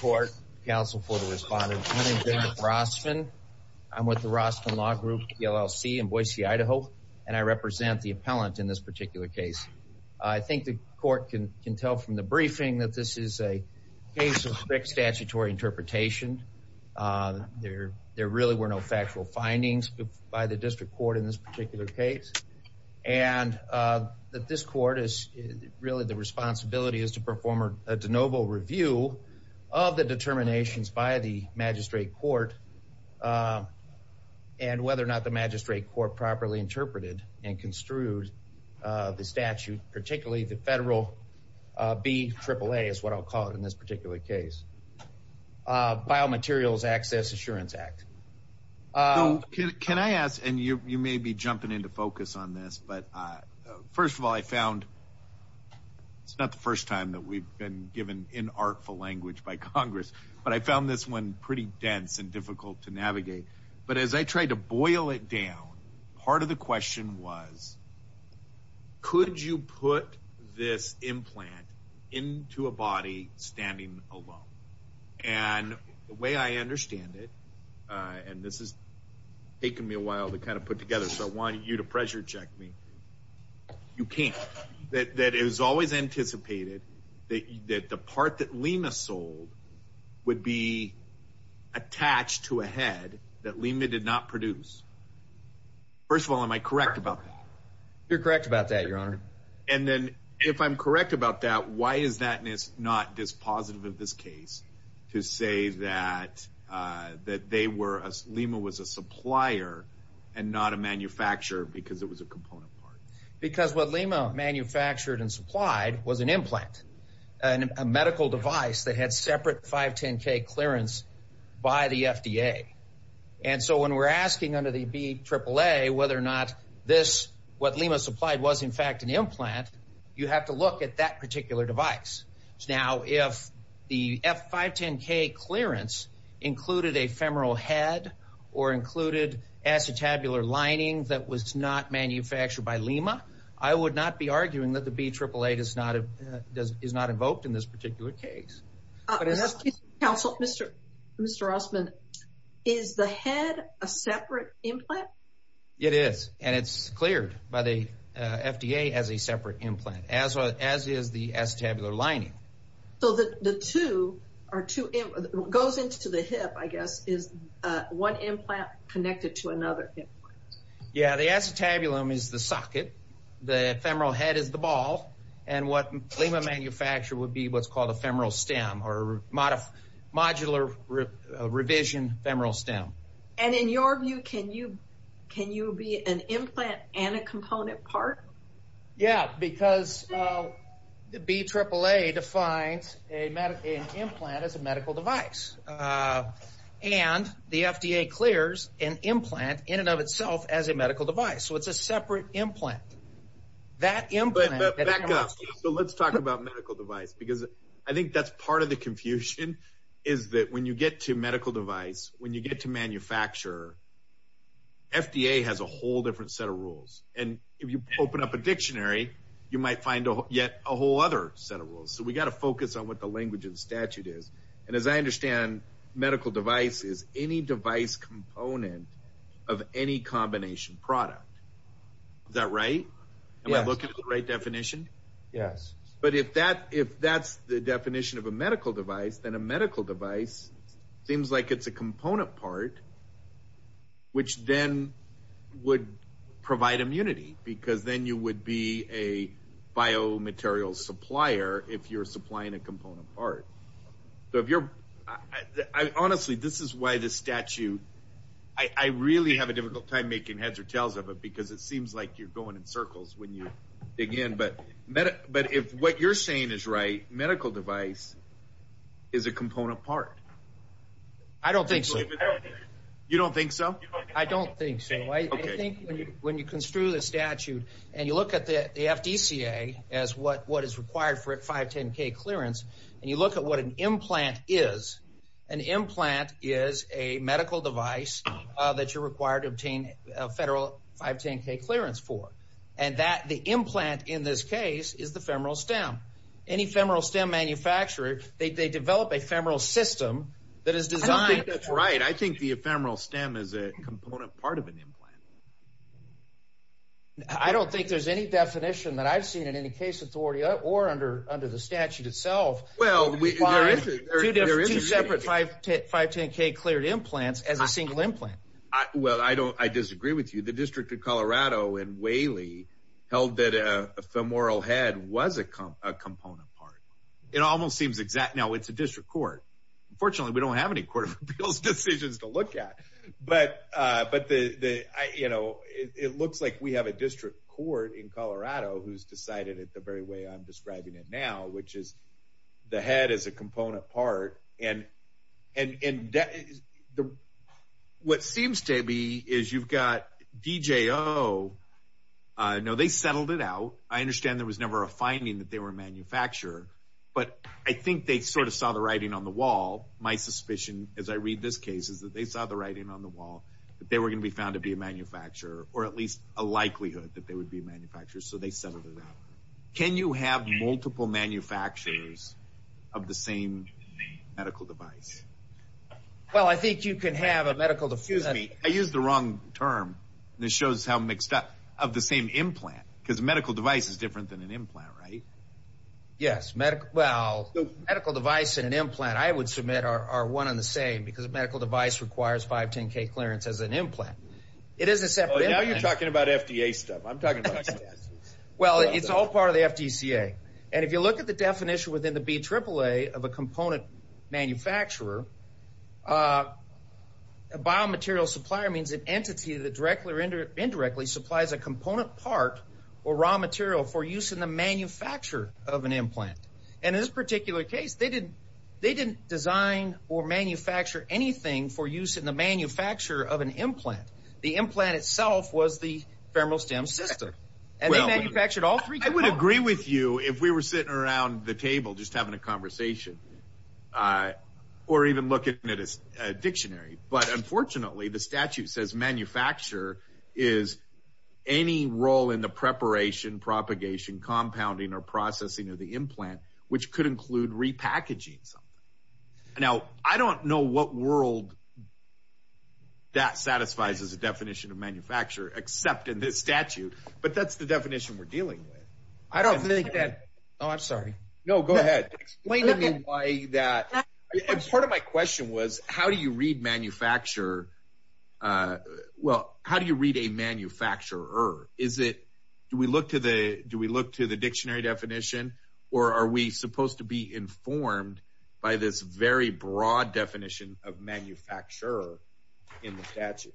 Court counsel for the respondent Rossman I'm with the Rossman Law Group LLC in Boise Idaho and I represent the appellant in this particular case I think the court can can tell from the briefing that this is a case of strict statutory interpretation there there really were no factual findings by the district court in this particular case and that this court is really the review of the determinations by the magistrate court and whether or not the magistrate court properly interpreted and construed the statute particularly the federal B triple-a is what I'll call it in this particular case biomaterials access Assurance Act can I ask and you may be jumping into focus on this but first of all I found it's not the first time that we've been given in artful language by Congress but I found this one pretty dense and difficult to navigate but as I tried to boil it down part of the question was could you put this implant into a body standing alone and the way I understand it and this is you to pressure check me you can't that that is always anticipated that you did the part that Lima sold would be attached to a head that Lima did not produce first of all am I correct about that you're correct about that your honor and then if I'm correct about that why is that miss not this positive of this case to say that that they were as Lima was a supplier and not a manufacturer because it was a component because what Lima manufactured and supplied was an implant and a medical device that had separate 510 K clearance by the FDA and so when we're asking under the B triple-a whether or not this what Lima supplied was in fact an implant you have to look at that particular device now if the F 510 K clearance included a femoral head or that was not manufactured by Lima I would not be arguing that the B triple eight is not a does is not invoked in this particular case council mr. mr. Rossman is the head a separate implant it is and it's cleared by the FDA as a separate implant as well as is the acetabular lining so that the two are goes into the hip I guess is one implant connected to another yeah the acetabulum is the socket the femoral head is the ball and what Lima manufacturer would be what's called a femoral stem or modif modular revision femoral stem and in your view can you can you be an implant and a component part yeah because the B triple-a defines a medical implant as a medical device and the FDA clears an implant in and of itself as a medical device so it's a separate implant that in but let's talk about medical device because I think that's part of the confusion is that when you get to medical device when you get to manufacture FDA has a whole different set of rules and if you open up a so we got to focus on what the language of the statute is and as I understand medical device is any device component of any combination product that right and I look at the right definition yes but if that if that's the definition of a medical device then a medical device seems like it's a component part which then would provide immunity because then you would be a biomaterial supplier if you're supplying a component part so if you're honestly this is why this statute I really have a difficult time making heads or tails of it because it seems like you're going in circles when you dig in but meta but if what you're saying is right medical device is a component part I don't think so you don't think so I don't think when you construe the statute and you look at the 510 K clearance and you look at what an implant is an implant is a medical device that you're required to obtain a federal 510 K clearance for and that the implant in this case is the femoral stem any femoral stem manufacturer they develop a femoral system that is designed that's right I think the ephemeral stem is a component part of an implant I don't think there's any well I don't I disagree with you the District of Colorado and Whaley held that a femoral head was a component part it almost seems exact now it's a district court unfortunately we don't have any court of appeals decisions to look at but but the you know it looks like we have a district court in Colorado who's decided it the very way I'm describing it now which is the head is a component part and and what seems to be is you've got DJ oh no they settled it out I understand there was never a finding that they were a manufacturer but I think they sort of saw the writing on the wall my suspicion as I read this case is that they saw the writing on the wall that they were gonna be found to be a manufacturer or at least a likelihood that they would be manufacturers so they can you have multiple manufacturers of the same medical device well I think you can have a medical to fuse me I use the wrong term this shows how mixed up of the same implant because medical device is different than an implant right yes medic well medical device in an implant I would submit our one on the same because a medical device requires 510 K clearance as an implant it is a separate talking about FDA stuff I'm talking well it's all part of the FTC a and if you look at the definition within the B triple-a of a component manufacturer a biomaterial supplier means an entity that directly or indirectly supplies a component part or raw material for use in the manufacture of an implant and in this particular case they didn't they didn't design or manufacture anything for use in the manufacture of an implant the implant itself was the femoral stem system and they manufactured all three I would agree with you if we were sitting around the table just having a conversation or even looking at a dictionary but unfortunately the statute says manufacture is any role in the preparation propagation compounding or processing of the implant which could include repackaging something now I don't know what world that satisfies as a definition of manufacture except in this statute but that's the definition we're dealing with I don't think that oh I'm sorry no go ahead explain to me why that part of my question was how do you read manufacture well how do you read a manufacturer is it do we look to the do we look to the dictionary definition or are we supposed to be informed by this very broad definition of manufacturer in the statute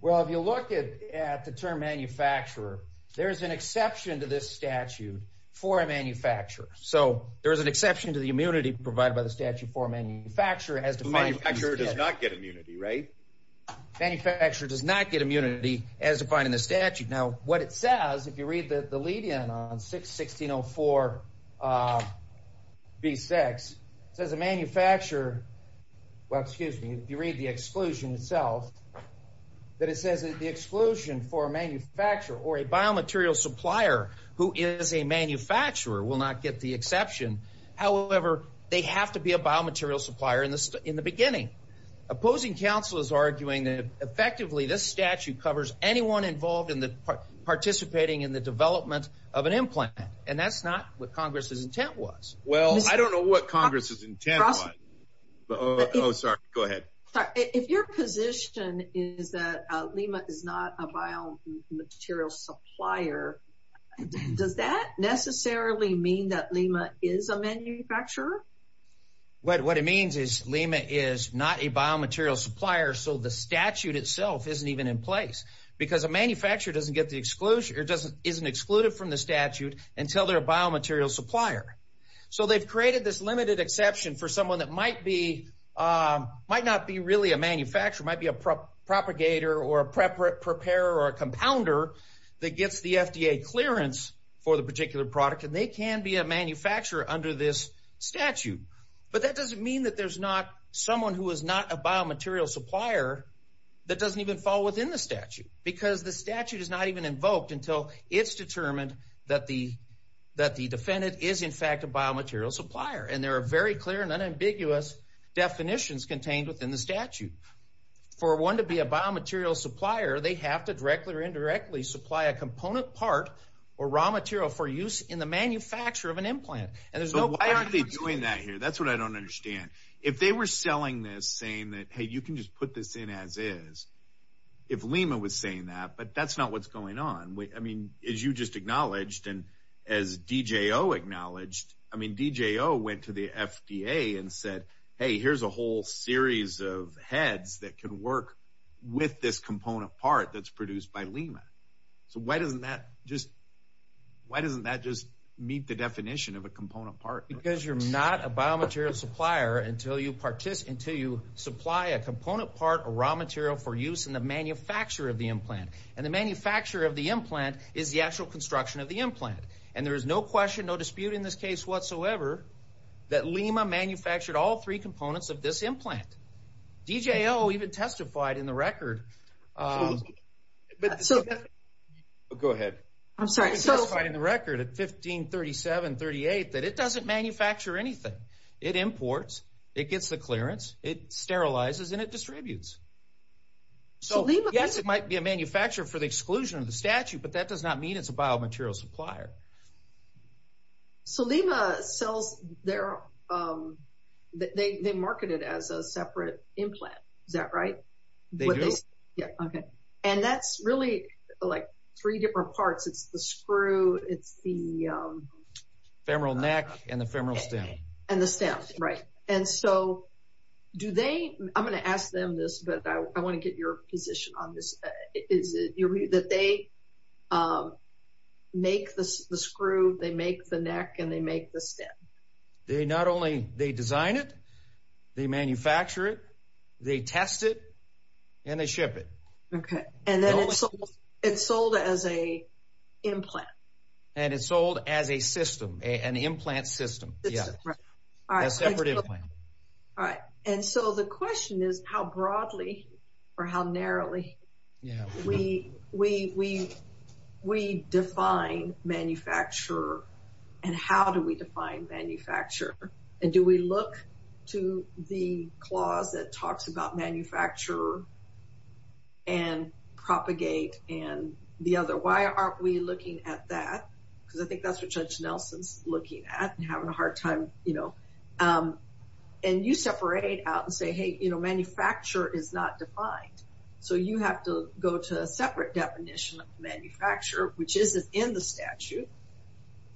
well if you look at the term manufacturer there's an exception to this statute for a manufacturer so there's an exception to the immunity provided by the statute for a manufacturer as the manufacturer does not get immunity right manufacturer does not get immunity as defined in the statute now what it says if you read that the lead in on 6 1604 b6 as a manufacturer well excuse me if you read the exclusion itself that it says that the exclusion for a manufacturer or a biomaterial supplier who is a manufacturer will not get the exception however they have to be a biomaterial supplier in this in the beginning opposing counsel is arguing that effectively this statute covers anyone involved in the participating in the development of an implant and that's not what Congress's intent was well I don't know what Congress's intent oh sorry go ahead if your position is that Lima is not a biomaterial supplier does that necessarily mean that Lima is a manufacturer what what it means is Lima is not a biomaterial supplier so the statute itself isn't even in place because a manufacturer doesn't get the exclusion it doesn't isn't excluded from the statute until they're a biomaterial supplier so they've created this limited exception for someone that might be might not be really a manufacturer might be a prop propagator or a prep prep preparer or a compounder that gets the FDA clearance for the particular product and they can be a manufacturer under this but that doesn't mean that there's not someone who is not a biomaterial supplier that doesn't even fall within the statute because the statute is not even invoked until it's determined that the that the defendant is in fact a biomaterial supplier and there are very clear and unambiguous definitions contained within the statute for one to be a biomaterial supplier they have to directly or indirectly supply a component part or raw material for use in the manufacture of an implant that's what I don't understand if they were selling this saying that hey you can just put this in as is if Lima was saying that but that's not what's going on I mean is you just acknowledged and as DJ Oh acknowledged I mean DJ Oh went to the FDA and said hey here's a whole series of heads that can work with this component part that's produced by Lima so why doesn't that just why doesn't that just meet the definition of a component part because you're not a biomaterial supplier until you participate until you supply a component part or raw material for use in the manufacture of the implant and the manufacturer of the implant is the actual construction of the implant and there is no question no dispute in this case whatsoever that Lima manufactured all three components of this implant DJ Oh even testified in the record go ahead I'm sorry so in the record at 1537 38 that it doesn't manufacture anything it imports it gets the clearance it sterilizes and it distributes so yes it might be a manufacturer for the exclusion of the statute but that does not mean it's a biomaterial supplier so Lima sells their they marketed as a separate implant is that right yeah okay and that's really like three different parts it's the screw it's the femoral neck and the femoral stem and the stem right and so do they I'm gonna ask them this but I want to get your position on this is that they make this the screw they make the neck and they make the stem they not only they design it they manufacture it they test it and they ship it okay and then it's sold as a implant and it's sold as a system a an implant system yeah all right all right and so the and how do we define manufacturer and do we look to the clause that talks about manufacturer and propagate and the other why aren't we looking at that because I think that's what judge Nelson's looking at and having a hard time you know and you separate out and say hey you know manufacturer is not defined so you have to go to a separate definition of manufacturer which isn't in the statute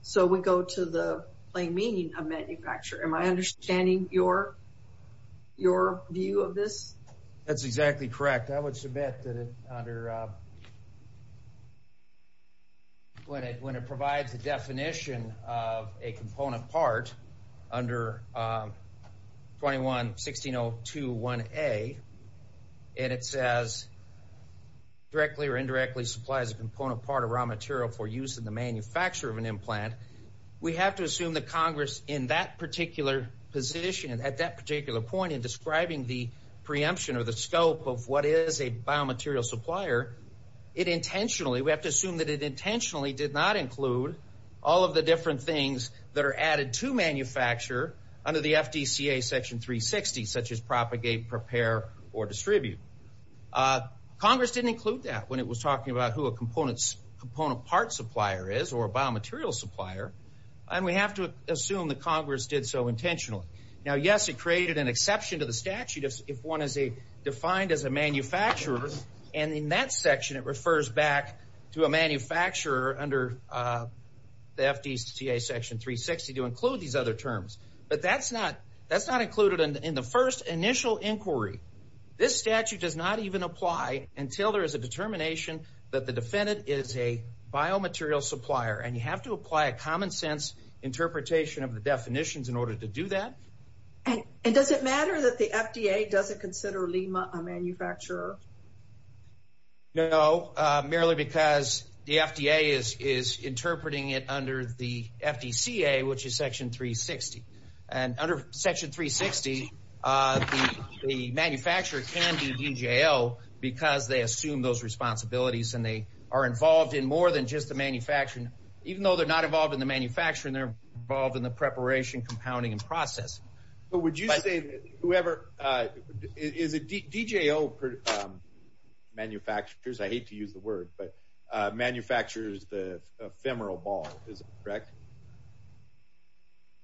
so we go to the plain meaning of manufacturer am I understanding your your view of this that's exactly correct I would submit that it under when it when it provides the definition of a component part under 21 16 0 2 1 a and it says directly or indirectly supplies a component part of material for use in the manufacture of an implant we have to assume that Congress in that particular position and at that particular point in describing the preemption or the scope of what is a biomaterial supplier it intentionally we have to assume that it intentionally did not include all of the different things that are added to manufacture under the FDCA section 360 such as propagate prepare or distribute Congress didn't include that when it was talking about who a components component part supplier is or a biomaterial supplier and we have to assume that Congress did so intentionally now yes it created an exception to the statute if one is a defined as a manufacturer and in that section it refers back to a manufacturer under the FDCA section 360 to include these other terms but that's not that's not included in the first initial inquiry this statute does not even apply until there is a determination that the defendant is a biomaterial supplier and you have to apply a common-sense interpretation of the definitions in order to do that and it doesn't matter that the FDA doesn't consider Lima a manufacturer no merely because the FDA is is interpreting it under the FDCA which is section 360 and under section 360 the manufacturer can be in jail because they assume those responsibilities and they are involved in more than just the manufacturing even though they're not involved in the manufacturing they're involved in the preparation compounding and process but would you say whoever is a DJO manufacturers I hate to use the word but manufacturers the ephemeral ball is correct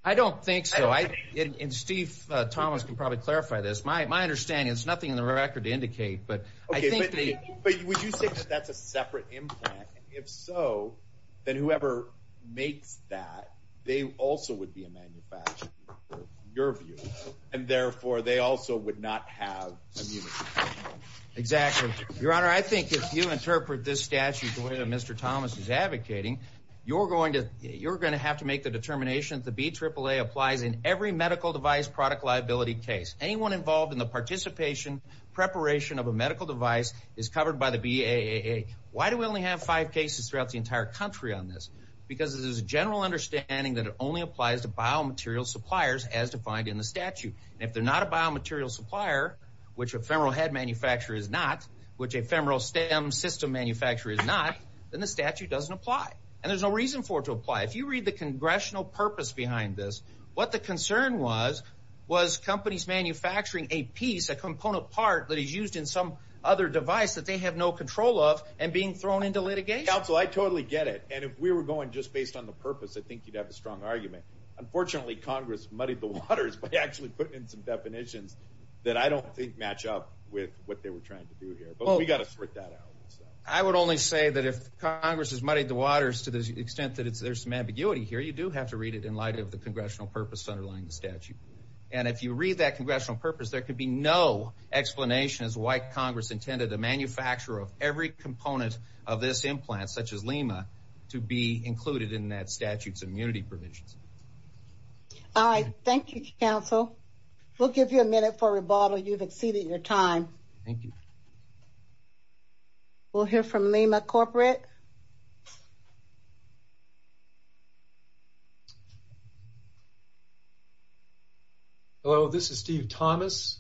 I don't think so I and Steve Thomas can probably clarify this my my it's nothing in the record to indicate but if so then whoever makes that they also would be a manufacturer your view and therefore they also would not have exactly your honor I think if you interpret this statute the way that mr. Thomas is advocating you're going to you're gonna have to make the determination to be triple-a applies in every medical device product liability case anyone involved in the participation preparation of a medical device is covered by the BAA why do we only have five cases throughout the entire country on this because it is a general understanding that it only applies to biomaterial suppliers as defined in the statute if they're not a biomaterial supplier which ephemeral head manufacturer is not which ephemeral stem system manufacturer is not then the statute doesn't apply and there's no reason for to apply if you read the congressional purpose behind this what the concern was was companies manufacturing a piece a component part that is used in some other device that they have no control of and being thrown into litigation so I totally get it and if we were going just based on the purpose I think you'd have a strong argument unfortunately Congress muddied the waters but actually put in some definitions that I don't think match up with what they were trying to do here but we got to sort that out I would only say that if Congress has muddied the waters to the extent that it's there's some ambiguity here you do have to read it in light of the congressional purpose underlying the statute and if you read that congressional purpose there could be no explanation as white Congress intended a manufacturer of every component of this implant such as Lima to be included in that statutes immunity provisions all right thank you counsel we'll give you a minute for rebuttal you've exceeded your time thank you we'll hear from Lima corporate hello this is Steve Thomas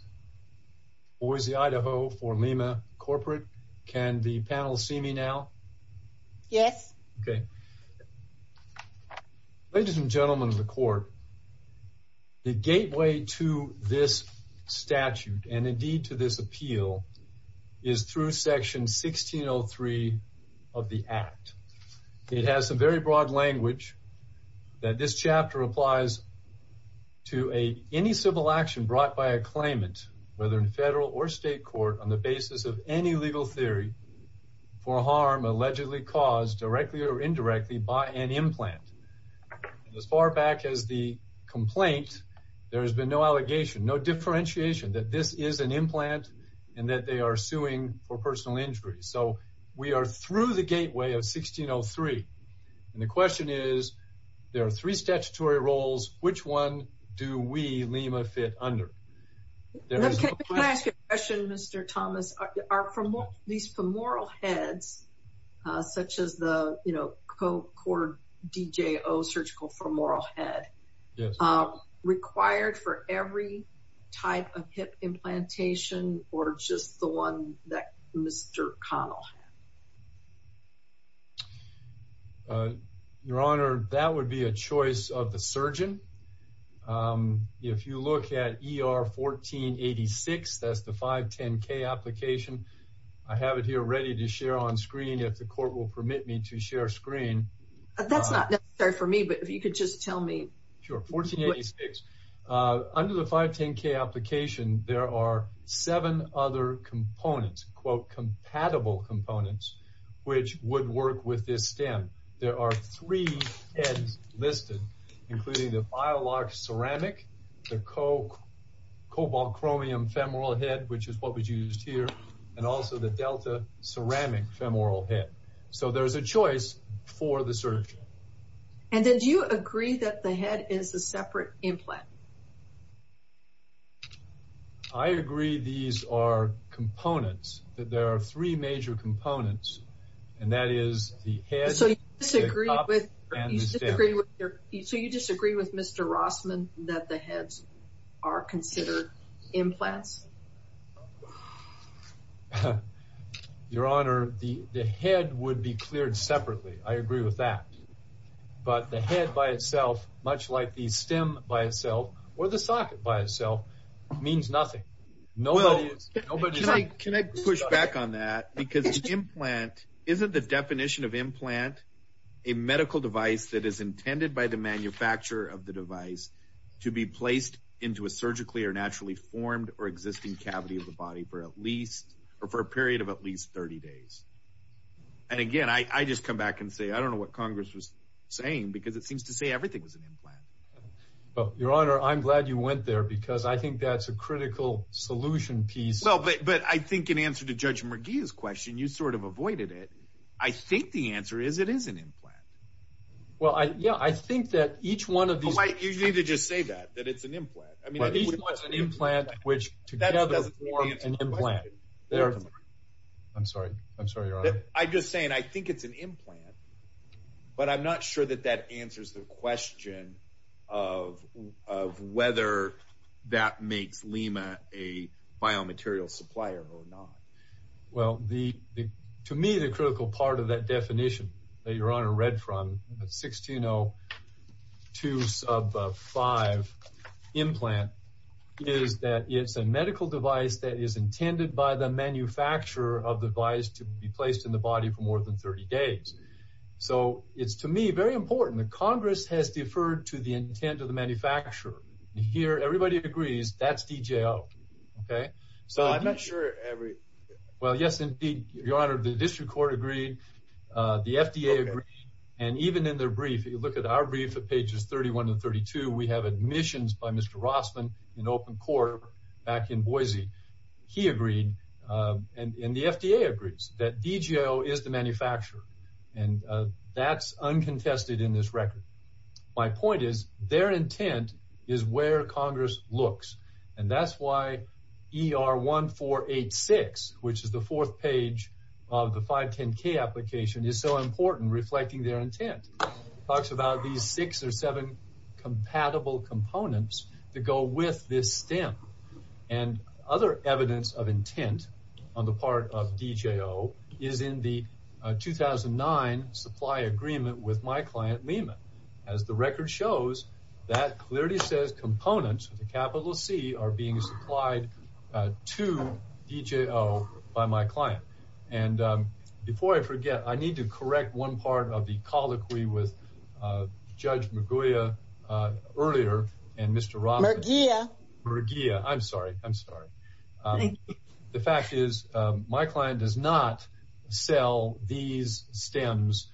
Boise Idaho for Lima corporate can the panel see me now yes okay ladies and gentlemen of the court the gateway to this statute and indeed to this appeal is through section 1603 of the act it has some very broad language that this chapter applies to a any civil action brought by a claimant whether in federal or state court on the basis of any legal theory for harm allegedly caused directly or indirectly by an implant as far back as the complaint there has been no allegation no differentiation that this is an implant and that they are suing for personal injury so we are through the is there are three statutory roles which one do we Lima fit under mr. Thomas are from these femoral heads such as the you know co-cord DJ Oh surgical for moral head required for every type of hip implantation or just the one that your honor that would be a choice of the surgeon if you look at er 1486 that's the 510 K application I have it here ready to share on screen if the court will permit me to share screen that's not necessary for me but if you could just tell me sure 1486 under the 510 K application there are seven other components quote compatible components which would work with this stem there are three heads listed including the file lock ceramic the coke cobalt chromium femoral head which is what was used here and also the Delta ceramic femoral head so there's a choice for the surgeon and then do you agree that the components that there are three major components and that is the head so you disagree with mr. Rossman that the heads are considered implants your honor the head would be cleared separately I agree with that but the head by itself much like the stem by itself or the socket by itself means nothing no no but can I push back on that because implant isn't the definition of implant a medical device that is intended by the manufacturer of the device to be placed into a surgically or naturally formed or existing cavity of the body for at least or for a period of at least 30 days and again I just come back and say I don't know what Congress was saying because it seems to say everything was an implant but your honor I'm glad you went there because I think that's a critical solution piece so but but I think in answer to judge McGee's question you sort of avoided it I think the answer is it is an implant well I yeah I think that each one of these like you need to just say that that it's an implant I mean it was an implant which that doesn't work in my head there I'm sorry I'm sorry I just saying I think it's an implant but I'm not sure that that answers the question of whether that makes Lima a biomaterial supplier or not well the to me the critical part of that definition that your honor read from 1602 sub 5 implant is that it's a medical device that is intended by the manufacturer of the device to be placed in the body for more than 30 days so it's to me very important the Congress has deferred to the intent of the manufacturer here everybody agrees that's DJ oh okay so I'm not sure every well yes indeed your honor the district court agreed the FDA agreed and even in their brief you look at our brief at pages 31 and 32 we have admissions by open quarter back in Boise he agreed and in the FDA agrees that DJ oh is the manufacturer and that's uncontested in this record my point is their intent is where Congress looks and that's why er 1486 which is the fourth page of the 510 K application is so important reflecting their intent talks about these six or seven compatible components to go with this stamp and other evidence of intent on the part of DJ oh is in the 2009 supply agreement with my client Lima as the record shows that clearly says components with a capital C are being supplied to DJ oh by my client and before I forget I need to correct one part of the colloquy with judge Maguire earlier and mr. Robert yeah regia I'm sorry I'm sorry the fact is my client does not sell these stems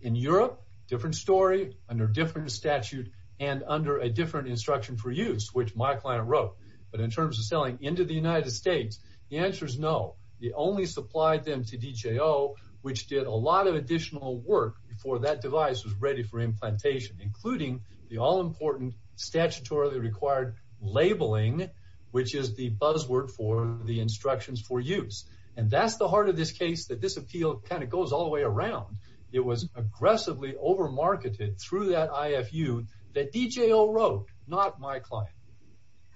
in Europe different story under different statute and under a different instruction for use which my client wrote but in terms of selling into the United States the answer is no the only supplied them to DJ oh which did a lot of additional work before that device was ready for implantation including the all-important statutorily required labeling which is the buzzword for the instructions for use and that's the heart of this case that this appeal kind of goes all the way around it was aggressively over marketed through that IFU that DJ oh wrote not my client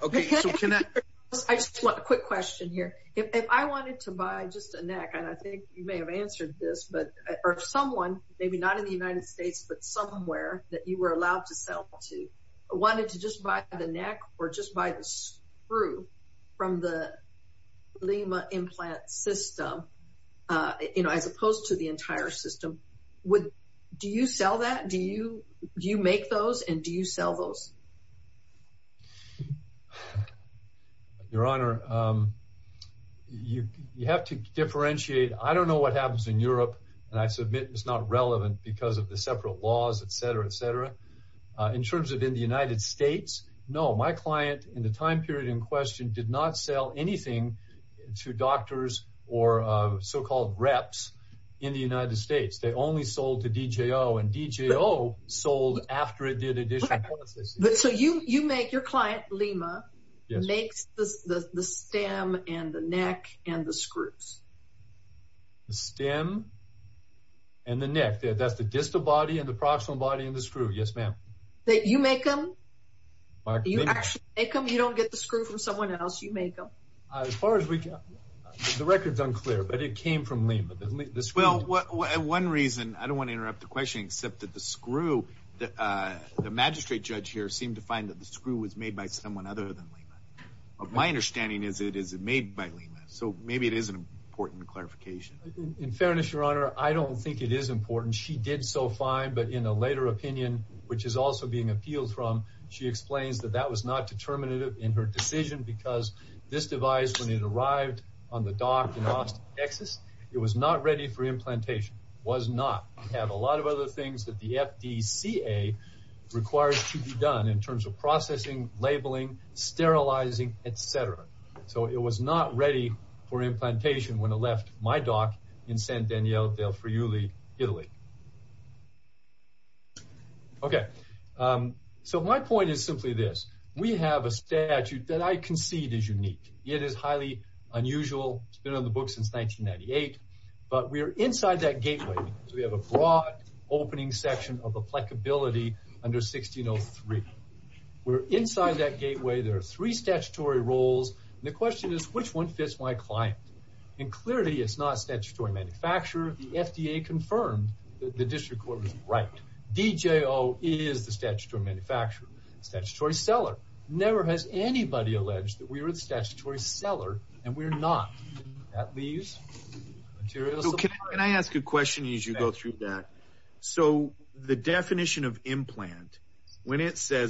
okay I just want a quick question here if I someone maybe not in the United States but somewhere that you were allowed to sell to wanted to just buy the neck or just buy this through from the Lima implant system you know as opposed to the entire system would do you sell that do you do you make those and do you sell those your honor you you have to admit it's not relevant because of the separate laws etc etc in terms of in the United States no my client in the time period in question did not sell anything to doctors or so-called reps in the United States they only sold to DJ oh and DJ oh sold after it did it so you you make your client Lima makes the stem and the neck and the screws stem and the neck that's the distal body and the proximal body in the screw yes ma'am that you make them you don't get the screw from someone else you make them as far as we can the records unclear but it came from Lima this well what one reason I don't want to interrupt the question except that the screw that the magistrate judge here seemed to find that the screw was made by someone other than Lima of my understanding is it is it made by Lima so maybe it is an important clarification in fairness your honor I don't think it is important she did so fine but in a later opinion which is also being appealed from she explains that that was not determinative in her decision because this device when it arrived on the dock in Austin Texas it was not ready for implantation was not have a lot of other things that the FDCA requires to be done in terms of processing labeling sterilizing etc so it was not ready for implantation when it left my dock in San Daniel del Friuli Italy okay so my point is simply this we have a statute that I concede is unique it is highly unusual it's been on the book since 1998 but we are inside that gateway so we have a broad opening section of applicability under 1603 we're inside that gateway there are three statutory roles the question is which one fits my client and clearly it's not statutory manufacturer the FDA confirmed that the district court was right DJO is the statutory manufacturer statutory seller never has anybody alleged that we were the statutory seller and we're not at least can I ask a question as you go through that so the as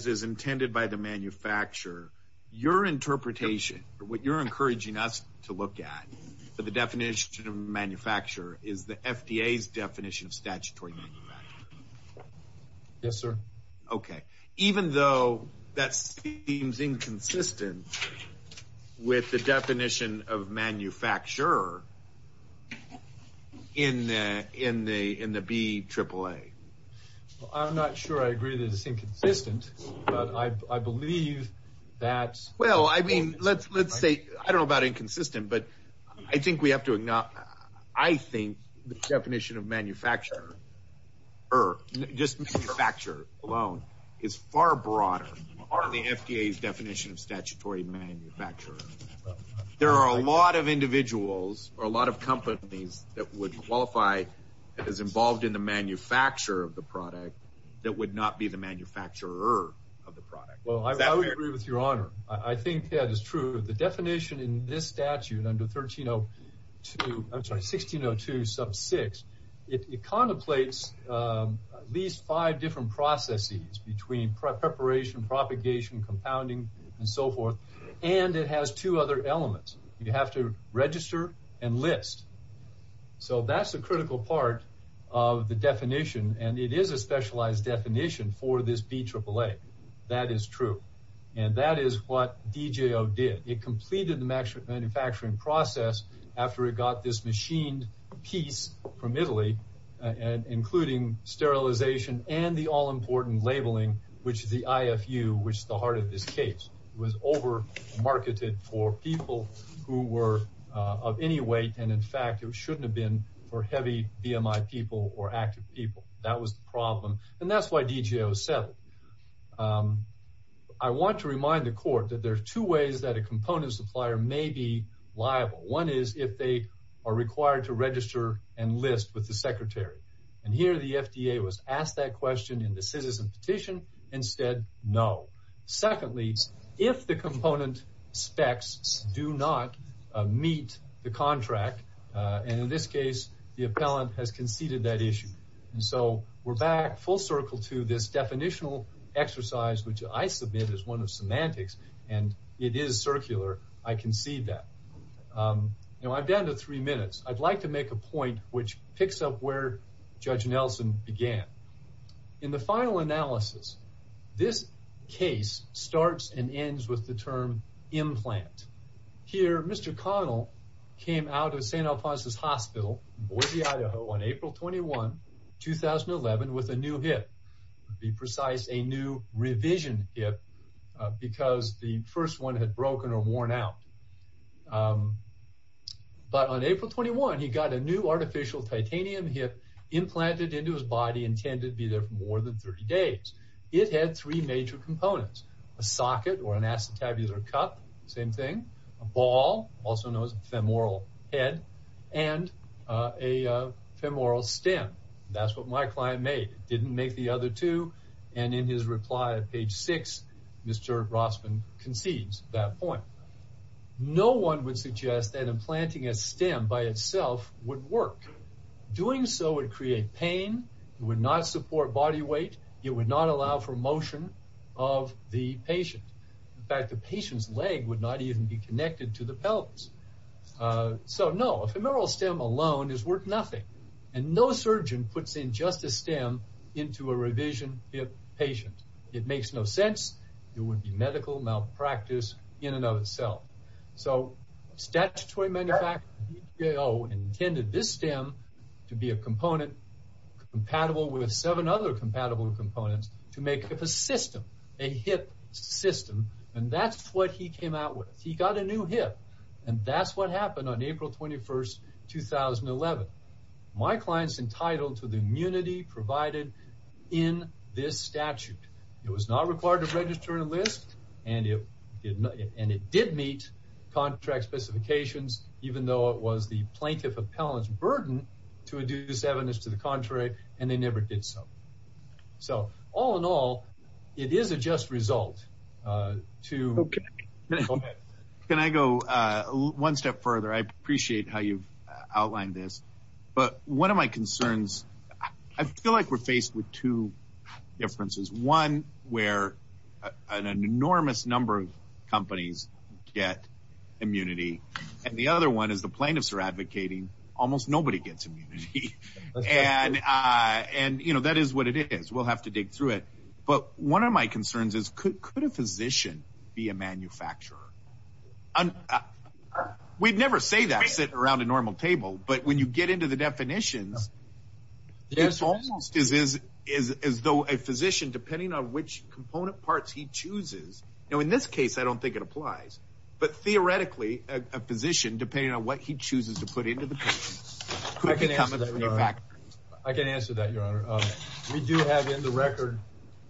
is intended by the manufacturer your interpretation what you're encouraging us to look at for the definition of manufacturer is the FDA's definition of statutory yes sir okay even though that seems inconsistent with the definition of manufacturer in in the in the B triple-a I'm not sure I agree that it's I believe that well I mean let's let's say I don't know about inconsistent but I think we have to acknowledge I think the definition of manufacturer or just factor alone is far broader are the FDA's definition of statutory manufacturer there are a lot of individuals or a lot of companies that would qualify that is involved in the manufacture of the product that would not be the manufacturer of the product well I agree with your honor I think that is true the definition in this statute under 1302 I'm sorry 1602 sub 6 it contemplates at least five different processes between preparation propagation compounding and so forth and it has two other elements you have to register and list so that's a critical part of the definition and it is a specialized definition for this B triple-a that is true and that is what DJO did it completed the maximum manufacturing process after it got this machined piece from Italy and including sterilization and the all-important labeling which is the IFU which the heart of this case was over marketed for people who were of any weight and in fact it shouldn't have been for heavy BMI people or active people that was the problem and that's why DJO said I want to remind the court that there's two ways that a component supplier may be liable one is if they are required to register and list with the secretary and here the FDA was asked that question in the citizen petition instead no secondly if the component specs do not meet the contract and in this case the appellant has conceded that issue and so we're back full circle to this definitional exercise which I submit is one of semantics and it is circular I can see that you know I've been to three minutes I'd like to make a point which picks up where judge Nelson began in the final analysis this case starts and ends with the term implant here mr. Connell came out of st. Alphonsus Hospital Boise Idaho on April 21 2011 with a new hip be precise a new revision hip because the first one had broken or worn out but on April 21 he got a new artificial titanium hip implanted into his body intended to be there for more than 30 days it had three major components a socket or an acetabular cup same thing a ball also knows femoral head and a femoral stem that's what my client made didn't make the other two and in his reply at page 6 mr. Rossman concedes that point no one would suggest that implanting a stem by itself would work doing so would create pain it would not support body weight it would not allow for motion of the patient in fact the patient's leg would not even be connected to the pelvis so no femoral stem alone is worth nothing and no surgeon puts in just a stem into a revision hip patient it makes no sense there would be medical malpractice in and of itself so statutory manufacture you know intended this stem to be a component compatible with seven other components to make a system a hip system and that's what he came out with he got a new hip and that's what happened on April 21st 2011 my clients entitled to the immunity provided in this statute it was not required to register a list and it did not and it did meet contract specifications even though it was the plaintiff appellants burden to adduce evidence to the contrary and they never did so so all in all it is a just result to can I go one step further I appreciate how you've outlined this but one of my concerns I feel like we're faced with two differences one where an enormous number of companies get immunity and the other one is the plaintiffs are advocating almost nobody gets immunity and and you know that is what it is we'll have to dig through it but one of my concerns is could a physician be a manufacturer and we'd never say that sit around a normal table but when you get into the definitions this almost is is as though a physician depending on which component parts he chooses now in this case I don't think it applies but theoretically a physician depending on what he chooses to put into the package I can answer that I can answer that your honor we do have in the record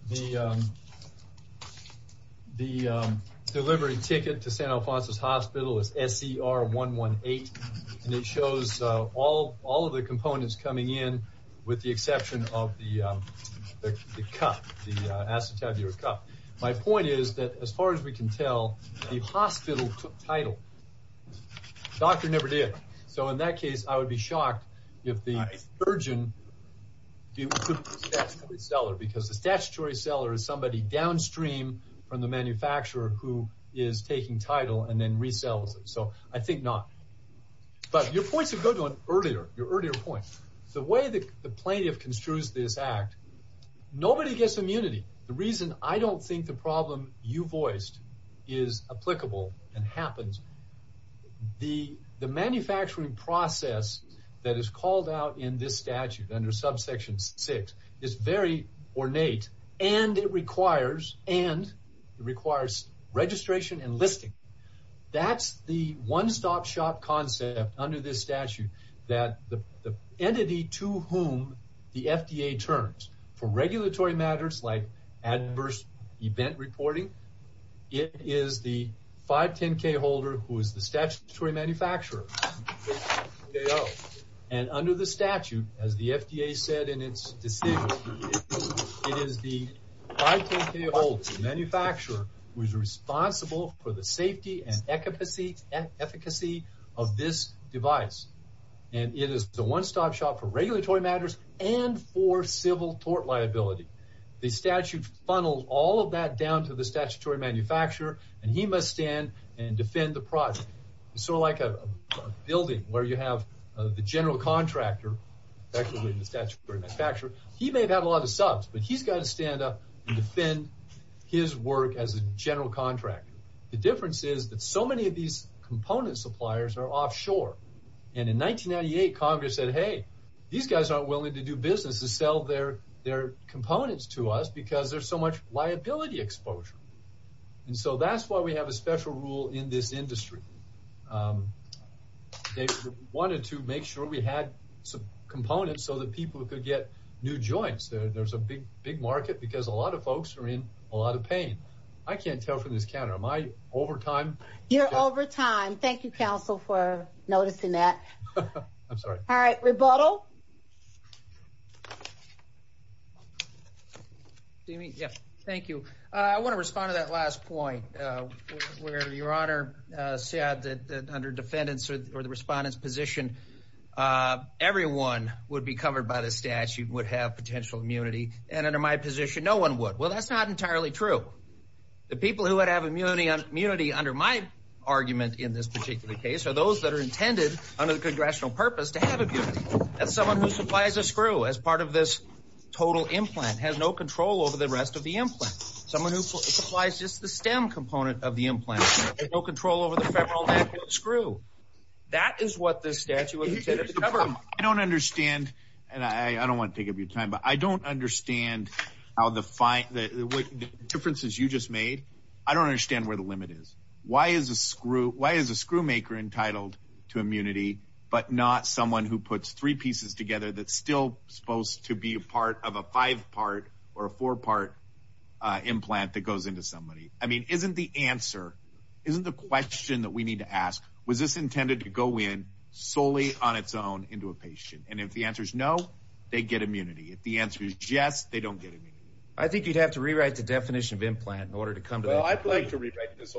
the the delivery ticket to San Alfonso's Hospital is SCR 118 and it shows all all of the components coming in with the exception of the cup the acetabular cup my point is that as far as we can tell the hospital took title doctor never did so in that case I would be shocked if the urgent seller because the statutory seller is somebody downstream from the manufacturer who is taking title and then resells it so I think not but your points of good one earlier your earlier point the way that the plaintiff construes this act nobody gets immunity the reason I don't think the problem you voiced is applicable and happens the the manufacturing process that is called out in this statute under subsection 6 is very ornate and it requires and it requires registration and listing that's the one stop shop concept under this statute that the entity to whom the FDA turns for regulatory matters like adverse event reporting it is the 510 K holder who is the statutory manufacturer and under the statute as the FDA said in its decision it is the manufacturer who is responsible for the safety and efficacy and efficacy of this device and it is the one-stop shop for regulatory matters and for civil tort liability the statute funnels all of that down to the statutory manufacturer and he must stand and defend the project so like a building where you have the general contractor actually the statutory manufacturer he may have had a lot of subs but he's got to stand up and defend his work as a general contractor the difference is that so many of these component suppliers are offshore and in 1998 Congress said hey these guys aren't willing to do business to sell their their components to us because there's so much liability exposure and so that's why we have a special rule in this industry they wanted to make sure we had some components so that people could get new joints there's a big big market because a lot of folks are in a lot of pain I can't tell from this counter my overtime you're over time thank you counsel for noticing that all right rebuttal thank you I want to respond to that last point where your honor said that under defendants or the respondents position everyone would be covered by the statute would have potential immunity and under my position no one would well that's not entirely true the case are those that are intended under the congressional purpose to have a beautiful that's someone who supplies a screw as part of this total implant has no control over the rest of the implant someone who supplies just the stem component of the implant no control over the federal screw that is what this statute I don't understand and I don't want to take up your time but I don't understand how the fight that what differences you just made I don't understand where the limit is why is a screw why is a screw maker entitled to immunity but not someone who puts three pieces together that's still supposed to be a part of a five part or a four part implant that goes into somebody I mean isn't the answer isn't the question that we need to ask was this intended to go in solely on its own into a patient and if the answer is no they get immunity if the answer is yes they don't get it I think you'd have to rewrite the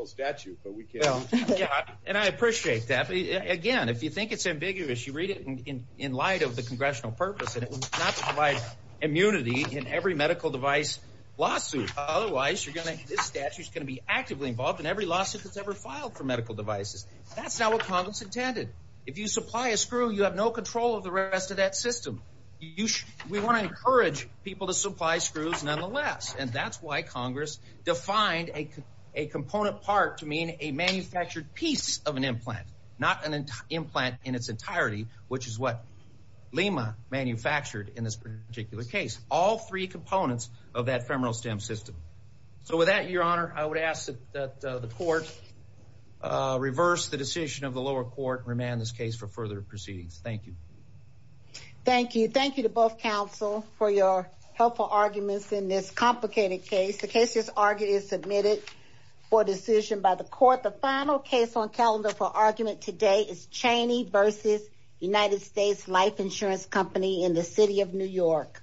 statute but we can and I appreciate that again if you think it's ambiguous you read it in in light of the congressional purpose and it was not to provide immunity in every medical device lawsuit otherwise you're gonna this statute's gonna be actively involved in every lawsuit that's ever filed for medical devices that's not what Congress intended if you supply a screw you have no control of the rest of that system you should we want to encourage people to supply screws nonetheless and that's why Congress defined a component part to mean a manufactured piece of an implant not an implant in its entirety which is what Lima manufactured in this particular case all three components of that femoral stem system so with that your honor I would ask that the court reverse the decision of the lower court remand this case for further proceedings thank you thank you thank you to both counsel for your helpful arguments in this complicated case the case is argued is submitted for decision by the court the final case on calendar for argument today is Cheney versus United States Life Insurance Company in the city of New York